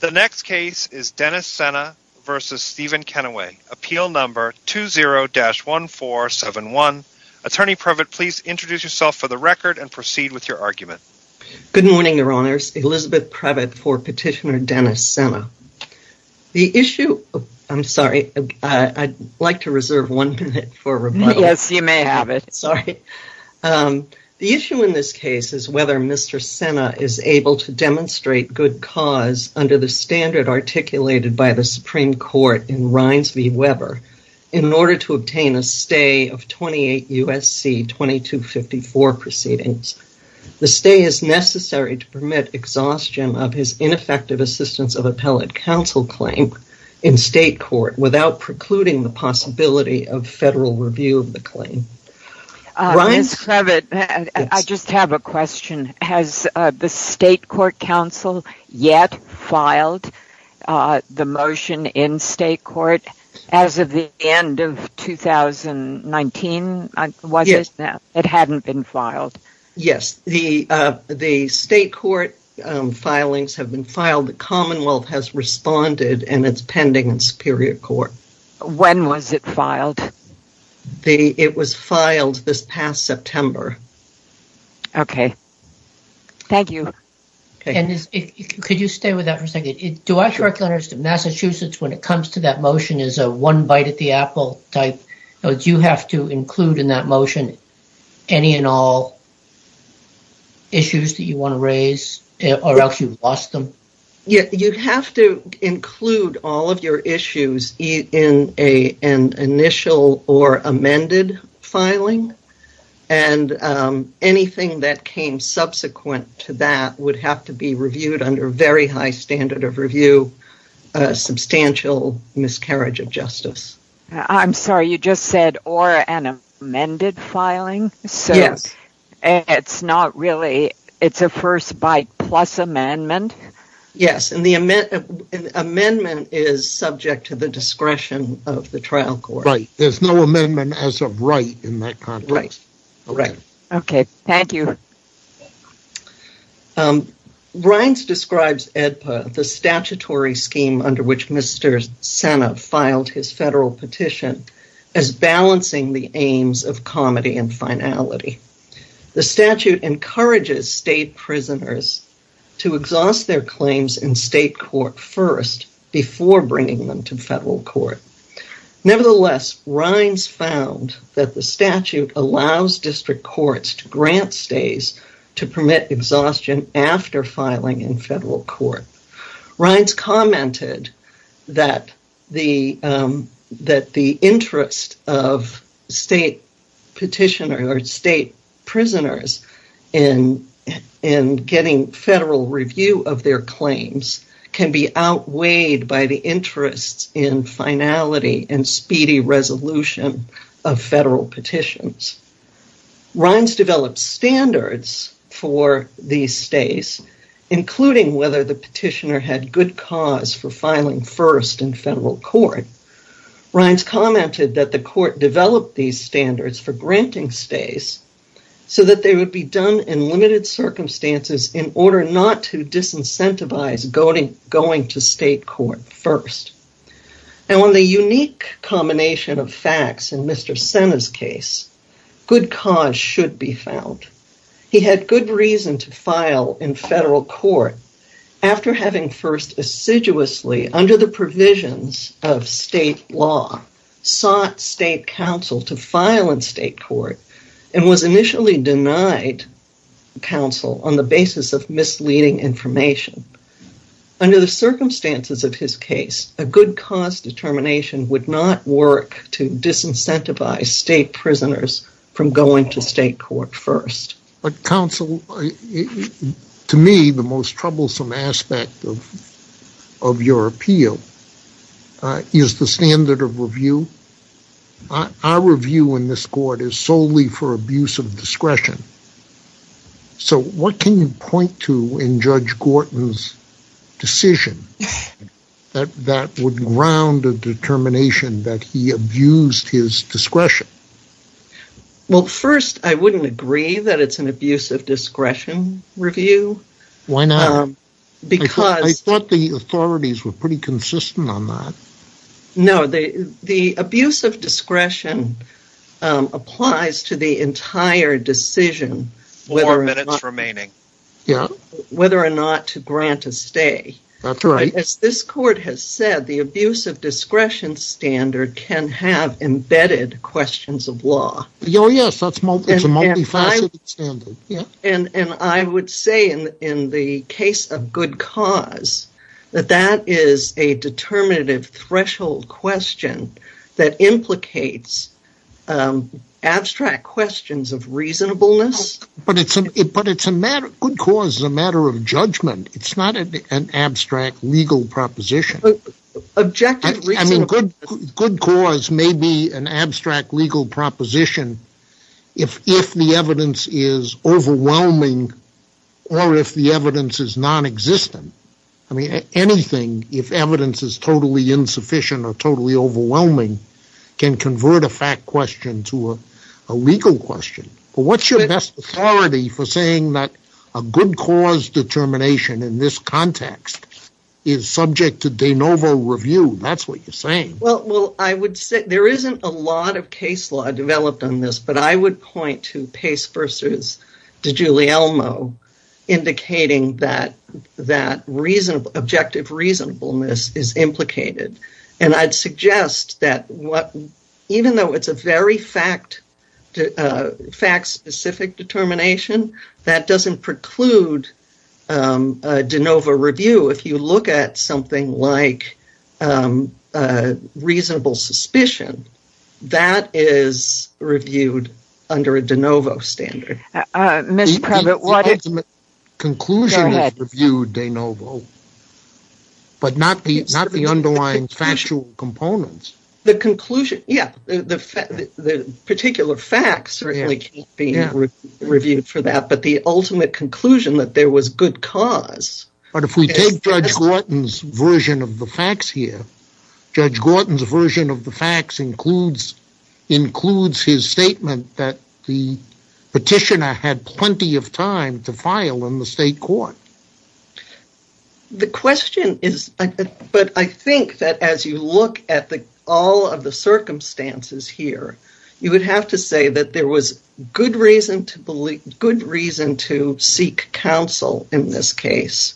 The next case is Dennis Sena v. Stephen Kenneway, Appeal No. 20-1471. Attorney Previtt, please introduce yourself for the record and proceed with your argument. Good morning, Your Honors. Elizabeth Previtt for Petitioner Dennis Sena. The issue, I'm sorry, I'd like to reserve one minute for rebuttal. Yes, you may have it. Sorry. The issue in this case is whether Mr. Sena is able to demonstrate good cause under the standard articulated by the Supreme Court in Rines v. Weber in order to obtain a stay of 28 U.S.C. 2254 proceedings. The stay is necessary to permit exhaustion of his ineffective assistance of appellate counsel claim in state court without precluding the possibility of federal review of the claim. Ms. Previtt, I just have a question. Has the state court counsel yet filed the motion in state court as of the end of 2019? Yes. Was it? It hadn't been filed? Yes. The state court filings have been filed. The commonwealth has responded and it's pending in superior court. When was it filed? It was filed this past September. Okay. Thank you. And could you stay with that for a second? Do I correctly understand Massachusetts when it comes to that motion is a one bite at the apple type? Do you have to include in that motion any and all issues that you want to raise or else you've lost them? You have to include all of your issues in an initial or amended filing and anything that came subsequent to that would have to be reviewed under a very high standard of review, substantial miscarriage of justice. I'm sorry. You just said or an amended filing? Yes. It's not really, it's a first bite plus amendment? Yes. And the amendment is subject to the discretion of the trial court. Right. There's no amendment as of right in that context. Right. Okay. Thank you. Rines describes the statutory scheme under which Mr. Sena filed his federal petition as balancing the aims of comedy and finality. The statute encourages state prisoners to exhaust their claims in state court first before bringing them to federal court. Nevertheless, Rines found that the statute allows district courts to grant stays to permit exhaustion after filing in federal court. Rines commented that the interest of state petitioners or state prisoners in getting federal review of their claims can be outweighed by the interest in finality and speedy resolution of federal petitions. Rines developed standards for these stays, including whether the petitioner had good cause for filing first in federal court. Rines commented that the court developed these standards for granting stays so that they would be done in limited circumstances in order not to disincentivize going to state court first. Now, on the unique combination of facts in Mr. Sena's case, good cause should be found. He had good reason to file in federal court after having first assiduously under the provisions of state law sought state counsel to file in state court and was initially denied counsel on the basis of misleading information. Under the circumstances of his case, a good cause determination would not work to disincentivize state prisoners from going to state court first. But counsel, to me, the most troublesome aspect of your appeal is the standard of review. Our review in this court is solely for abuse of discretion. So, what can you point to in Judge Gorton's decision that would ground a determination that he abused his discretion? Well, first, I wouldn't agree that it's an abuse of discretion review. Why not? I thought the authorities were pretty consistent on that. No, the abuse of discretion applies to the entire decision whether or not to grant a stay. That's right. As this court has said, the abuse of discretion standard can have embedded questions of law. Oh yes, it's a multifaceted standard. I would say in the case of good cause that that is a determinative threshold question that implicates abstract questions of reasonableness. But good cause is a matter of judgment. It's not an abstract legal proposition. Objective reasonableness. I mean, good cause may be an abstract legal proposition if the evidence is overwhelming or if the evidence is nonexistent. I mean, anything, if evidence is totally insufficient or totally overwhelming, can convert a fact question to a legal question. What's your best authority for saying that a good cause determination in this context is subject to de novo review? That's what you're saying. Well, I would say there isn't a lot of case law developed on this, but I would point to Pace v. DiGiulielmo indicating that objective reasonableness is implicated. And I'd suggest that even though it's a very fact-specific determination, that doesn't preclude de novo review. If you look at something like reasonable suspicion, that is reviewed under a de novo standard. Ms. Prevett, what if... The ultimate conclusion is reviewed de novo, but not the underlying factual components. The conclusion, yeah, the particular facts certainly can't be reviewed for that. But the ultimate conclusion that there was good cause... But if we take Judge Gorton's version of the facts here, Judge Gorton's version of the facts includes his statement that the petitioner had plenty of time to file in the state court. The question is... But I think that as you look at all of the circumstances here, you would have to say that there was good reason to seek counsel in this case.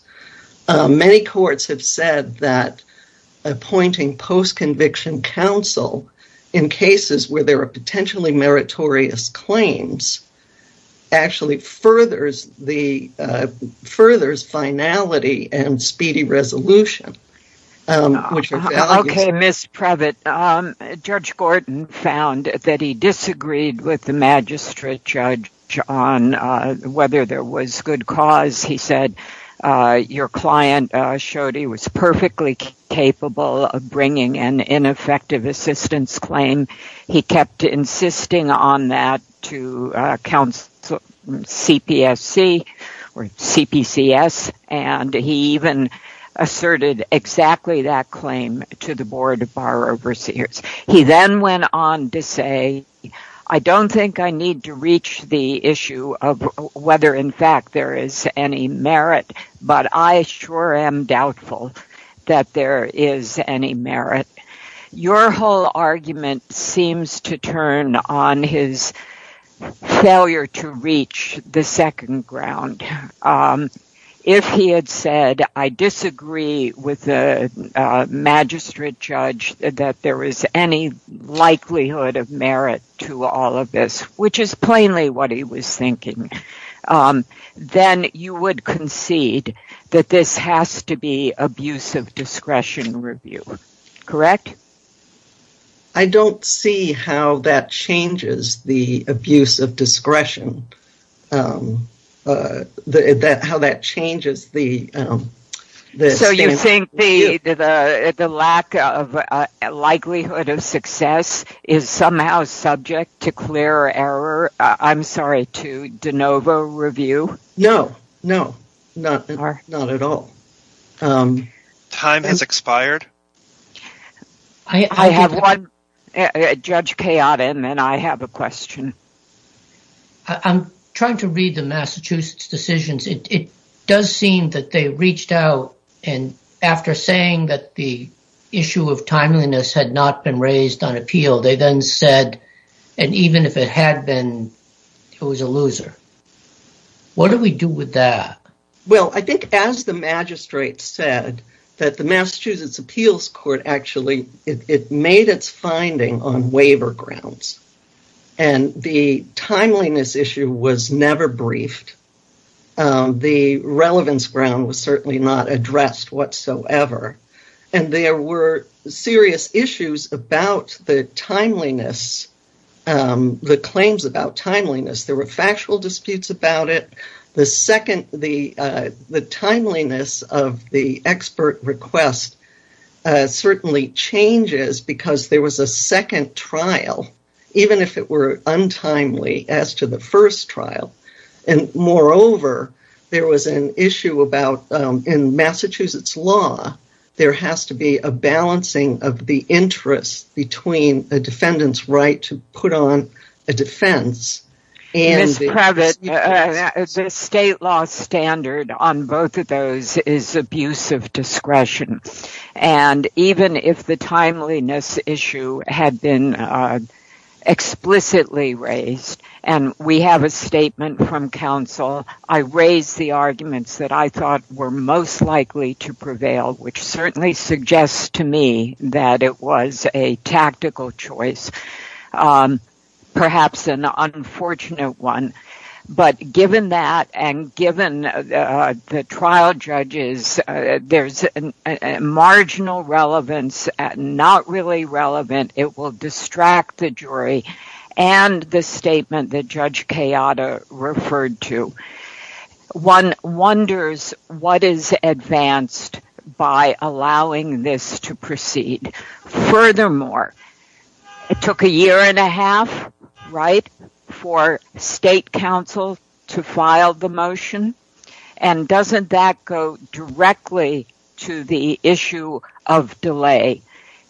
Many courts have said that appointing post-conviction counsel in cases where there are potentially meritorious claims actually furthers finality and speedy resolution. Okay, Ms. Prevett, Judge Gorton found that he disagreed with the magistrate judge on whether there was good cause. He said your client showed he was perfectly capable of bringing an ineffective assistance claim. He kept insisting on that to CPSC or CPCS, and he even asserted exactly that claim to the Board of Bar Overseers. He then went on to say, I don't think I need to reach the issue of whether in fact there is any merit, but I sure am doubtful that there is any merit. Your whole argument seems to turn on his failure to reach the second ground. If he had said, I disagree with the magistrate judge that there is any likelihood of merit to all of this, which is plainly what he was thinking, then you would concede that this I don't see how that changes the abuse of discretion, how that changes the... So you think the lack of likelihood of success is somehow subject to clear error? I'm sorry, to de novo review? No, no, not at all. Time has expired. I have one, Judge Kay Adam, and I have a question. I'm trying to read the Massachusetts decisions. It does seem that they reached out, and after saying that the issue of timeliness had not been raised on appeal, they then said, and even if it had been, it was a loser. What do we do with that? Well, I think as the magistrate said that the Massachusetts appeals court actually made its finding on waiver grounds, and the timeliness issue was never briefed. The relevance ground was certainly not addressed whatsoever, and there were serious issues about the timeliness, the claims about timeliness. There were factual disputes about it. The timeliness of the expert request certainly changes because there was a second trial, even if it were untimely, as to the first trial, and moreover, there was an issue about in Massachusetts law, there has to be a balancing of the interest between a defendant's right to put on a defense. Ms. Previtt, the state law standard on both of those is abuse of discretion, and even if the timeliness issue had been explicitly raised, and we have a statement from counsel, I raised the arguments that I thought were most likely to prevail, which certainly suggests to me that it was a tactical choice, perhaps an unfortunate one, but given that, and given the trial judges, there's a marginal relevance, not really relevant, it will distract the jury, and the statement that Judge Kayada referred to. One wonders what is advanced by allowing this to proceed. Furthermore, it took a year and a half, right, for state counsel to file the motion, and doesn't that go directly to the issue of delay?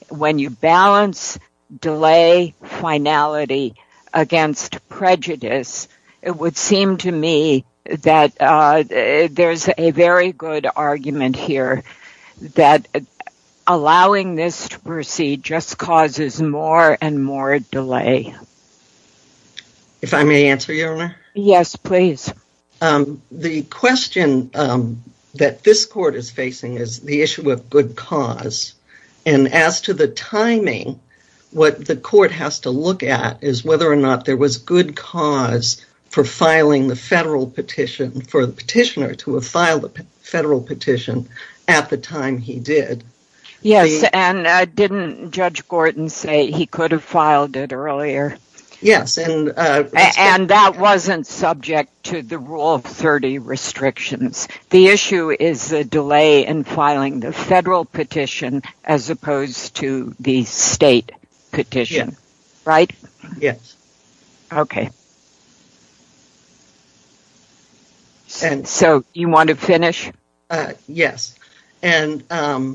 When you balance delay finality against prejudice, it would seem to me that there's a very good argument here, that allowing this to proceed just causes more and more delay. If I may answer, Your Honor? Yes, please. The question that this court is facing is the issue of good cause, and as to the timing, what the court has to look at is whether or not there was good cause for filing the federal petition, for the petitioner to have filed the federal petition at the time he did. Yes, and didn't Judge Gordon say he could have filed it earlier? Yes. And that wasn't subject to the rule of 30 restrictions. The issue is the delay in filing the federal petition as opposed to the state petition, right? Yes. Okay. So, you want to finish? Yes, and I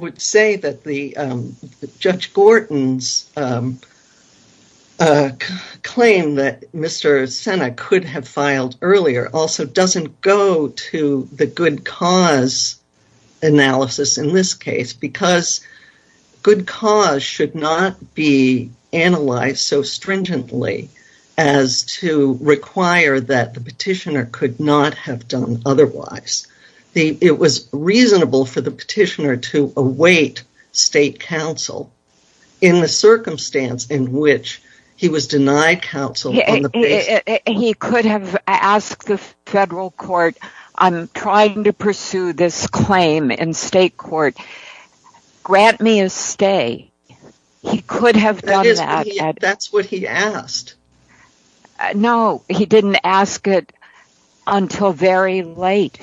would say that Judge Gordon's claim that Mr. Sena could have filed earlier also doesn't go to the good cause analysis in this case, because good cause should not be analyzed so stringently as to require that the petitioner could not have done otherwise. It was reasonable for the petitioner to await state counsel in the circumstance in which he was denied counsel on the basis of... He could have asked the federal court, I'm trying to pursue this claim in state court, grant me a stay. He could have done that. That's what he asked. No, he didn't ask it until very late.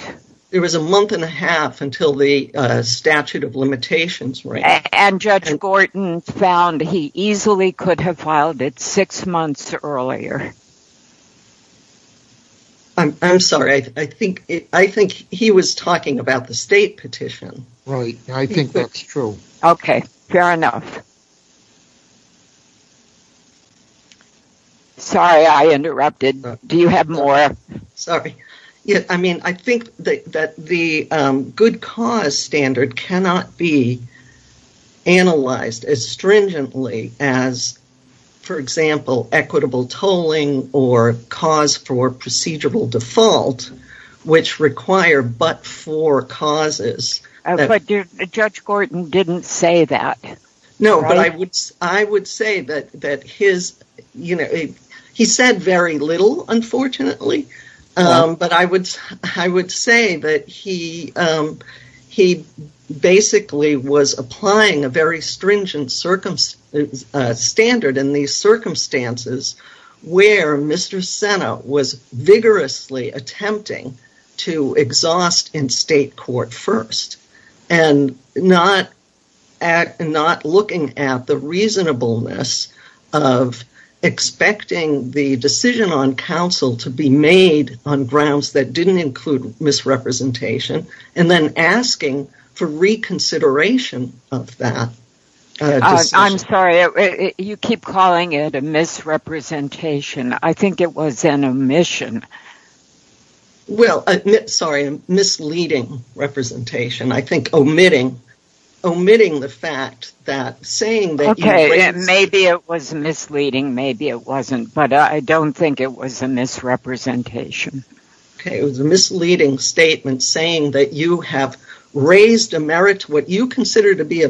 It was a month and a half until the statute of limitations. And Judge Gordon found he easily could have filed it six months earlier. I'm sorry, I think he was talking about the state petition. Right, I think that's true. Okay, fair enough. Sorry, I interrupted. Do you have more? Sorry. I mean, I think that the good cause standard cannot be analyzed as stringently as, for example, equitable tolling or cause for procedural default, which require but four causes. But Judge Gordon didn't say that. No, but I would say that he said very little, unfortunately, but I would say that he basically was applying a very stringent standard in these circumstances where Mr. Sena was vigorously attempting to exhaust in state court first and not looking at the reasonableness of expecting the decision on counsel to be made on grounds that didn't include misrepresentation and then asking for reconsideration of that decision. I'm sorry, you keep calling it a misrepresentation. I think it was an omission. Well, sorry, a misleading representation, I think, omitting the fact that saying that Okay, maybe it was misleading, maybe it wasn't, but I don't think it was a misrepresentation. Okay, it was a misleading statement saying that you have raised what you consider to be a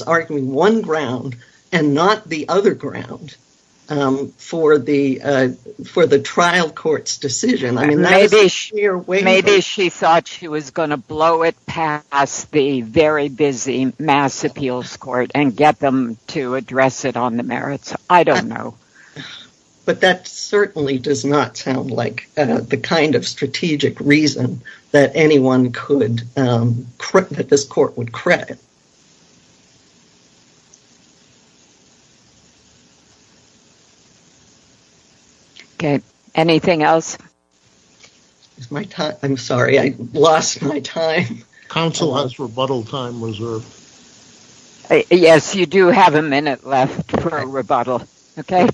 arguing one ground and not the other ground for the trial court's decision. Maybe she thought she was going to blow it past the very busy Mass Appeals Court and get them to address it on the merits. I don't know. But that certainly does not sound like the kind of strategic reason that this court would credit. Okay, anything else? I'm sorry, I lost my time. Counsel has rebuttal time reserved. Yes, you do have a minute left for rebuttal. Okay.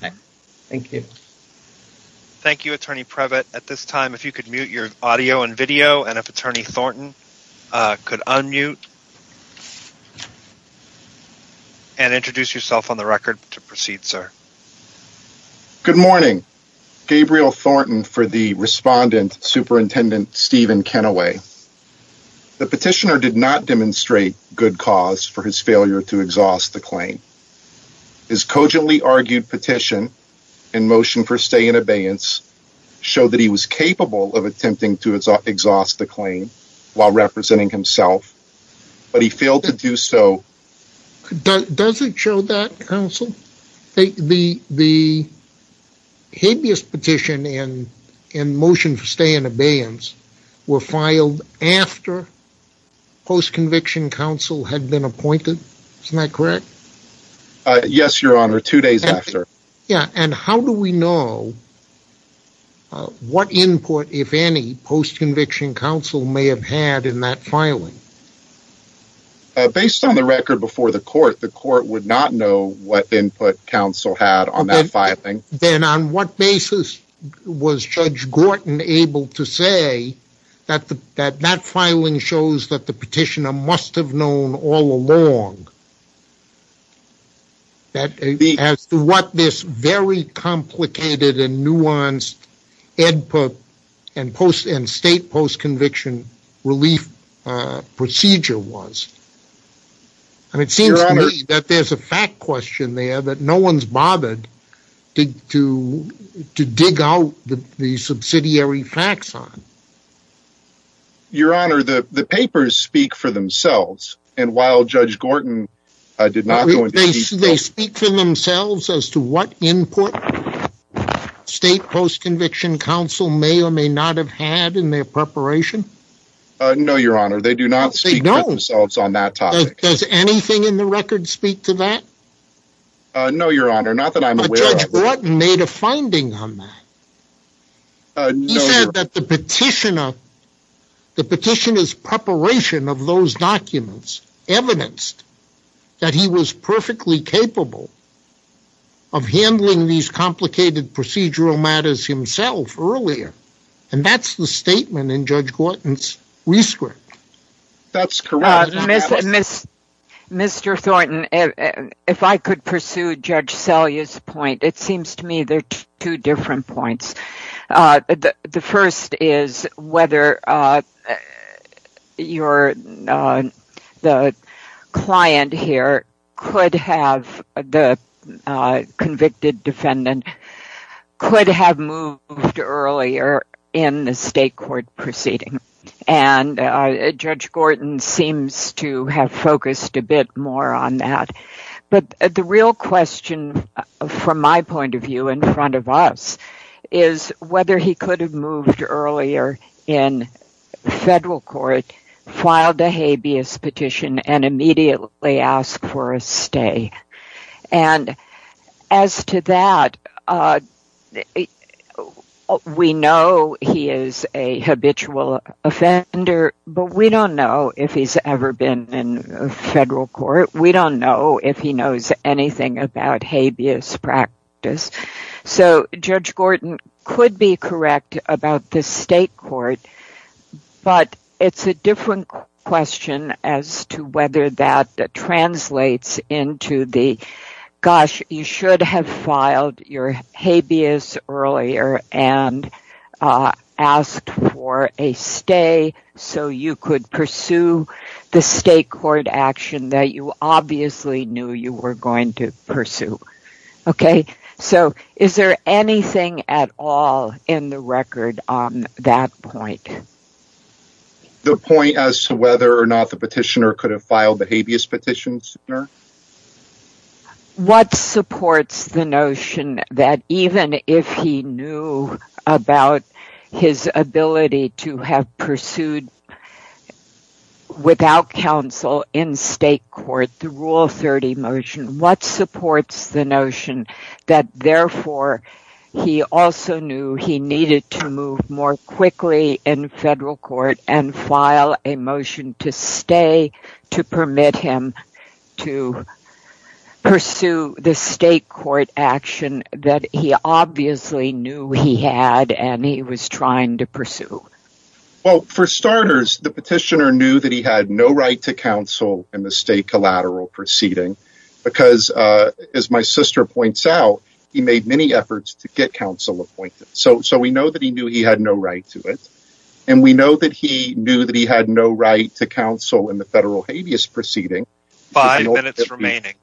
Thank you. Thank you, Attorney Previtt. At this time, if you could mute your audio and video and if Attorney Thornton could unmute and introduce yourself on the record to proceed, sir. Good morning. Gabriel Thornton for the respondent Superintendent Stephen Kennaway. The petitioner did not demonstrate good cause for his failure to exhaust the claim. His cogently argued petition and motion for stay in abeyance show that he was capable of attempting to exhaust the claim while representing himself, but he failed to do so. Does it show that, Counsel? The habeas petition and motion for stay in abeyance were filed after post-conviction counsel had been appointed. Isn't that correct? Yes, Your Honor, two days after. Yeah, and how do we know what input, if any, post-conviction counsel may have had in that filing? Based on the record before the court, the court would not know what input counsel had on that filing. Then on what basis was Judge Gorton able to say that that filing shows that the petitioner must have known all along that as to what this very complicated and nuanced input and state post-conviction relief procedure was. It seems to me that there's a fact question there that no one's bothered to dig out the subsidiary facts on. Your Honor, the papers speak for themselves, and while Judge Gorton did not go into detail... They speak for themselves as to what input state post-conviction counsel may or may not have had in their preparation. No, Your Honor, they do not speak for themselves on that topic. Does anything in the record speak to that? No, Your Honor, not that I'm aware of. But Judge Gorton made a finding on that. He said that the petitioner's preparation of those documents evidenced that he was perfectly capable of handling these complicated procedural matters himself earlier. And that's the statement in Judge Gorton's rescript. That's correct. Mr. Thornton, if I could pursue Judge Selye's point, it seems to me there are two different points. The first is whether the client here, the convicted defendant, could have moved earlier in the state court proceeding, and Judge Gorton seems to have focused a bit more on that. But the real question, from my point of view in front of us, is whether he could have moved earlier in federal court, filed a habeas petition, and immediately asked for a stay. And as to that, we know he is a habitual offender, but we don't know if he's ever been in federal court. We don't know if he knows anything about habeas practice. So Judge Gorton could be correct about the state court, but it's a different question as to whether that translates into the, gosh, you should have filed your habeas earlier and asked for a stay so you could pursue the state court action that you obviously knew you were going to pursue. Okay? So is there anything at all in the record on that point? The point as to whether or not the petitioner could have filed the habeas petition sooner? What supports the notion that even if he knew about his ability to have pursued without counsel in state court, the Rule 30 motion, what supports the notion that therefore he also knew he needed to move more quickly in federal court and file a motion to stay to permit him to pursue the state court action that he obviously knew he had and he was trying to pursue? Well, for starters, the petitioner knew that he had no right to counsel in the state collateral proceeding because, as my sister points out, he made many efforts to get counsel appointed. So we know that he knew he had no right to it, and we know that he knew that he had no right to counsel in the federal habeas proceeding. Five minutes remaining.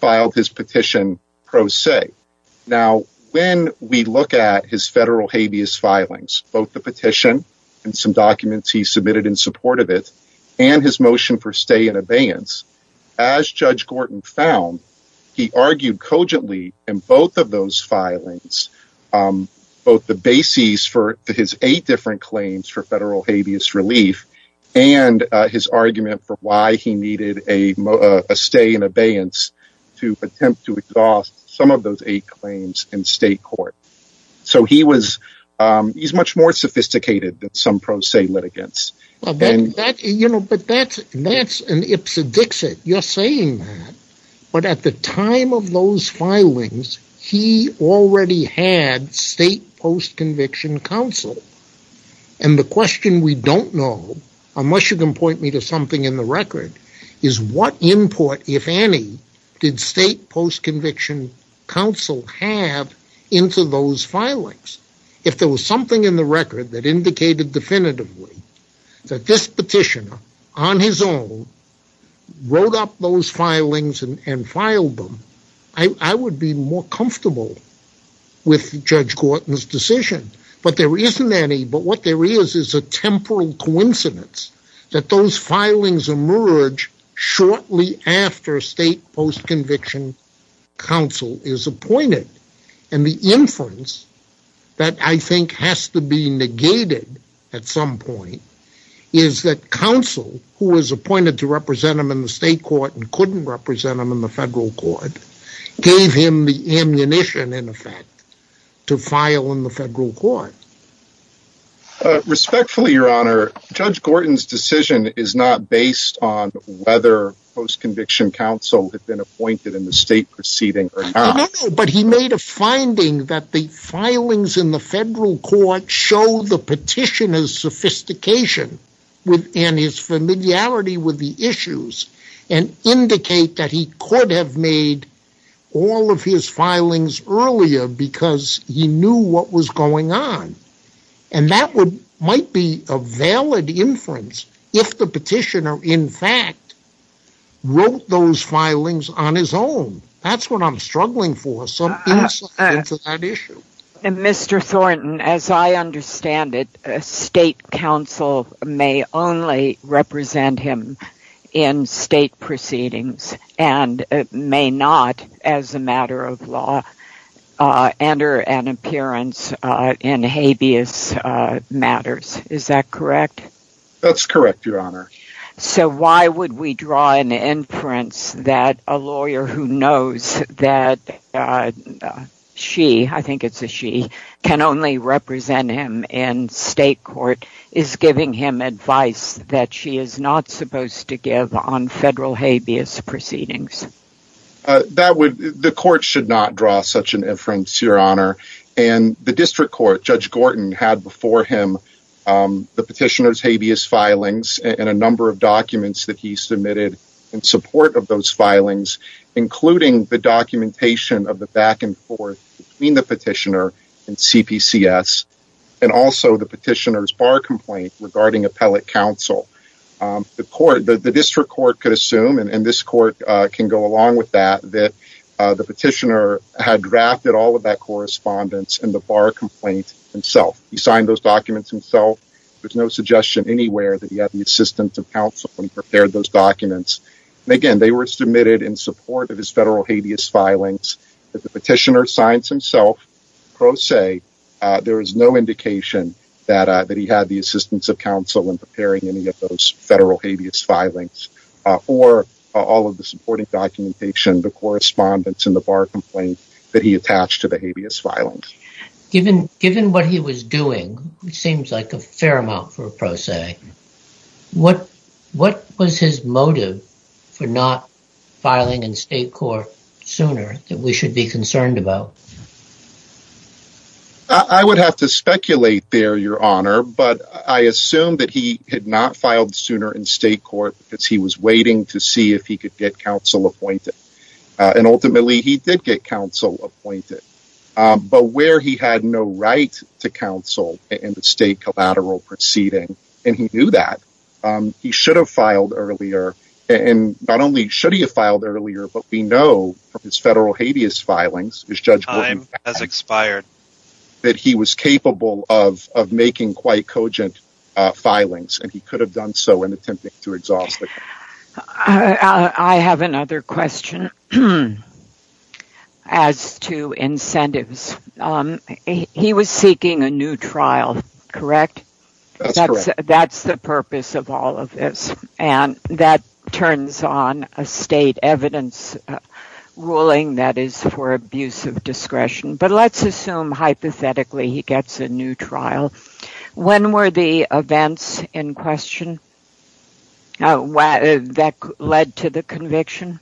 Filed his petition pro se. Now, when we look at his federal habeas filings, both the petition and some documents he submitted in support of it and his motion for stay in abeyance, as Judge Gorton found, he argued cogently in both of those filings, both the basis for his eight different claims for federal habeas relief and his argument for why he needed a stay in abeyance to attempt to exhaust some of those eight claims in state court. So he's much more sophisticated than some pro se litigants. But that's an ipsedixit. You're saying that. But at the time of those filings, he already had state post-conviction counsel. And the question we don't know, unless you can point me to something in the record, is what import, if any, did state post-conviction counsel have into those filings? If there was something in the record that indicated definitively that this petitioner, on his own, wrote up those filings and filed them, I would be more comfortable with Judge Gorton's decision. But there isn't any. But what there is is a temporal coincidence that those filings emerge shortly after state post-conviction counsel is appointed. And the inference that I think has to be negated at some point is that counsel, who was appointed to represent him in the state court and couldn't represent him in the federal court, gave him the ammunition, in effect, to file in the federal court. Respectfully, Your Honor, Judge Gorton's decision is not based on whether post-conviction counsel had been appointed in the state proceeding or not. But he made a finding that the filings in the federal court show the petitioner's sophistication and his familiarity with the issues and indicate that he could have made all of his filings earlier because he knew what was going on. And that might be a valid inference if the petitioner, in fact, wrote those filings on his own. That's what I'm struggling for, some insight into that issue. Mr. Thornton, as I understand it, state counsel may only represent him in state proceedings and may not, as a matter of law, enter an appearance in habeas matters. Is that correct? That's correct, Your Honor. So why would we draw an inference that a lawyer who knows that she, I think it's a she, can only represent him in state court is giving him advice that she is not supposed to give on federal habeas proceedings? The court should not draw such an inference, Your Honor. And the district court, Judge Gorton, had before him the petitioner's habeas filings and a number of documents that he submitted in support of those filings, including the documentation of the back and forth between the petitioner and CPCS and also the petitioner's bar complaint regarding appellate counsel. The district court could assume, and this court can go along with that, that the petitioner had drafted all of that correspondence in the bar complaint himself. He signed those documents himself. There's no suggestion anywhere that he had the assistance of counsel when he prepared those documents. And again, they were submitted in support of his federal habeas filings. If the petitioner signs himself, pro se, there is no indication that he had the assistance of counsel in preparing any of those federal habeas filings or all of the supporting documentation, the correspondence, and the bar complaint that he attached to the habeas filings. Given what he was doing, which seems like a fair amount for a pro se, what was his motive for not filing in state court sooner that we should be concerned about? I would have to speculate there, Your Honor, but I assume that he had not filed sooner in state court because he was waiting to see if he could get counsel appointed. And ultimately, he did get counsel appointed, but where he had no right to counsel in the state collateral proceeding, and he knew that, he should have filed earlier. And not only should he have filed earlier, but we know from his federal habeas filings, his judgment has expired, that he was capable of making quite cogent filings, and he could have done so in attempting to exhaust the court. I have another question as to incentives. He was seeking a new trial, correct? That's correct. That's the purpose of all of this, and that turns on a state evidence ruling that is for abuse of discretion. But let's assume, hypothetically, he gets a new trial. When were the events in question that led to the conviction?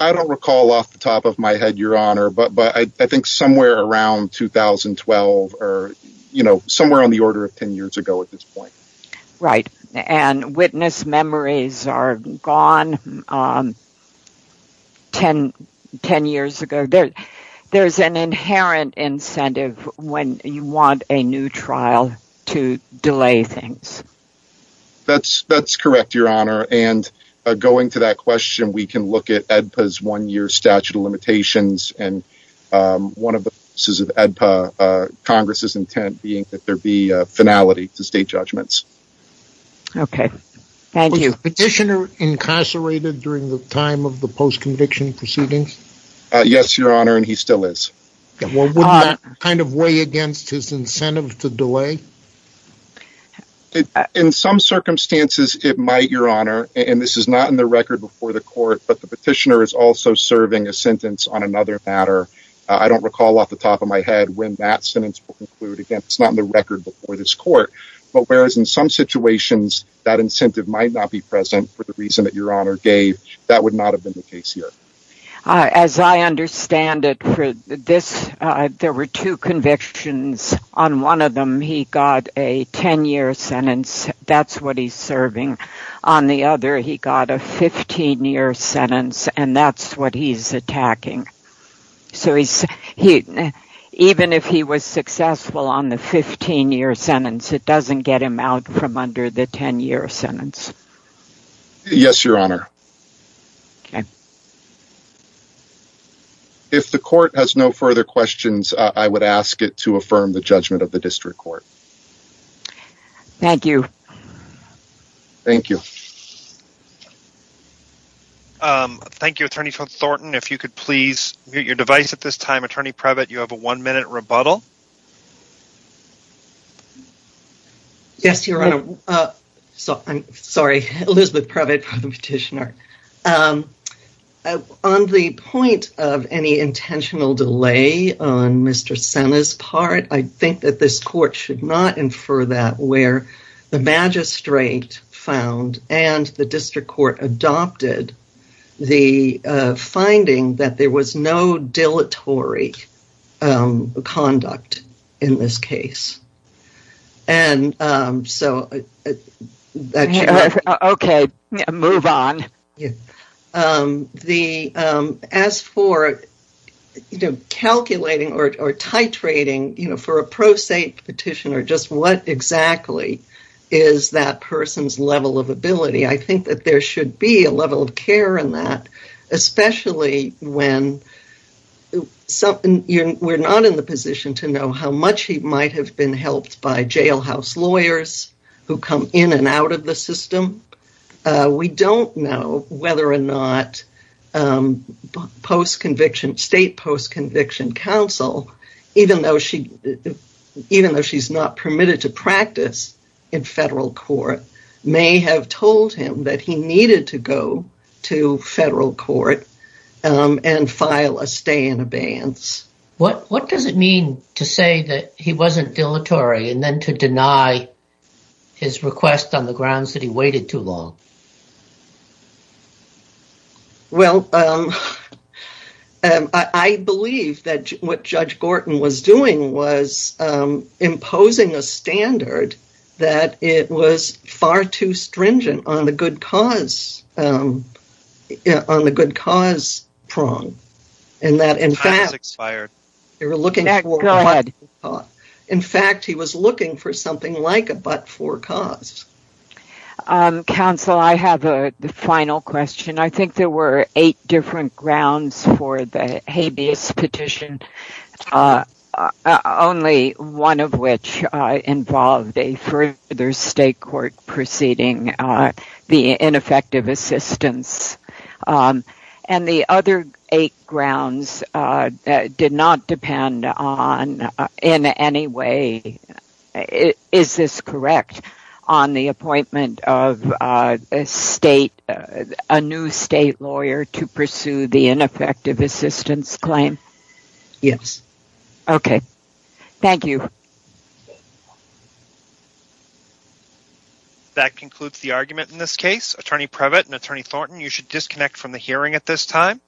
I don't recall off the top of my head, Your Honor, but I think somewhere around 2012 or somewhere on the order of ten years ago at this point. Right. And witness memories are gone ten years ago. There's an inherent incentive when you want a new trial to delay things. That's correct, Your Honor. And going to that question, we can look at AEDPA's one-year statute of limitations, and one of the purposes of AEDPA Congress' intent being that there be finality to state judgments. Okay. Thank you. Was the petitioner incarcerated during the time of the post-conviction proceedings? Yes, Your Honor, and he still is. Well, wouldn't that kind of weigh against his incentive to delay? In some circumstances, it might, Your Honor, and this is not in the record before the court, but the petitioner is also serving a sentence on another matter. I don't recall off the top of my head when that sentence will conclude. Again, it's not in the record before this court, but whereas in some situations that incentive might not be present for the reason that Your Honor gave, that would not have been the case here. As I understand it, there were two convictions. On one of them, he got a 10-year sentence. That's what he's serving. On the other, he got a 15-year sentence, and that's what he's attacking. So even if he was successful on the 15-year sentence, it doesn't get him out from under the 10-year sentence. Yes, Your Honor. Okay. If the court has no further questions, I would ask it to affirm the judgment of the district court. Thank you. Thank you. Thank you, Attorney Thornton. If you could please mute your device at this time. Attorney Previtt, you have a one-minute rebuttal. Yes, Your Honor. Sorry, Elizabeth Previtt for the petitioner. On the point of any intentional delay on Mr. Senna's part, I think that this court should not infer that where the magistrate found and the district court adopted the finding that there was no dilatory conduct in this case. And so… Okay, move on. As for calculating or titrating for a pro se petitioner, just what exactly is that person's level of ability, I think that there should be a level of care in that, especially when we're not in the position to know how much he might have been helped by jailhouse lawyers who come in and out of the system. We don't know whether or not state post-conviction counsel, even though she's not permitted to practice in federal court, may have told him that he needed to go to federal court and file a stay in abeyance. What does it mean to say that he wasn't dilatory and then to deny his request on the grounds that he waited too long? Well, I believe that what Judge Gorton was doing was imposing a standard that it was far too stringent on the good cause prong. In fact, he was looking for something like a but-for cause. Counsel, I have a final question. I think there were eight different grounds for the habeas petition, only one of which involved a further state court proceeding the ineffective assistance. And the other eight grounds did not depend on, in any way, is this correct, on the appointment of a new state lawyer to pursue the ineffective assistance claim? Yes. Okay. Thank you. That concludes the argument in this case. Attorney Previtt and Attorney Thornton, you should disconnect from the hearing at this time.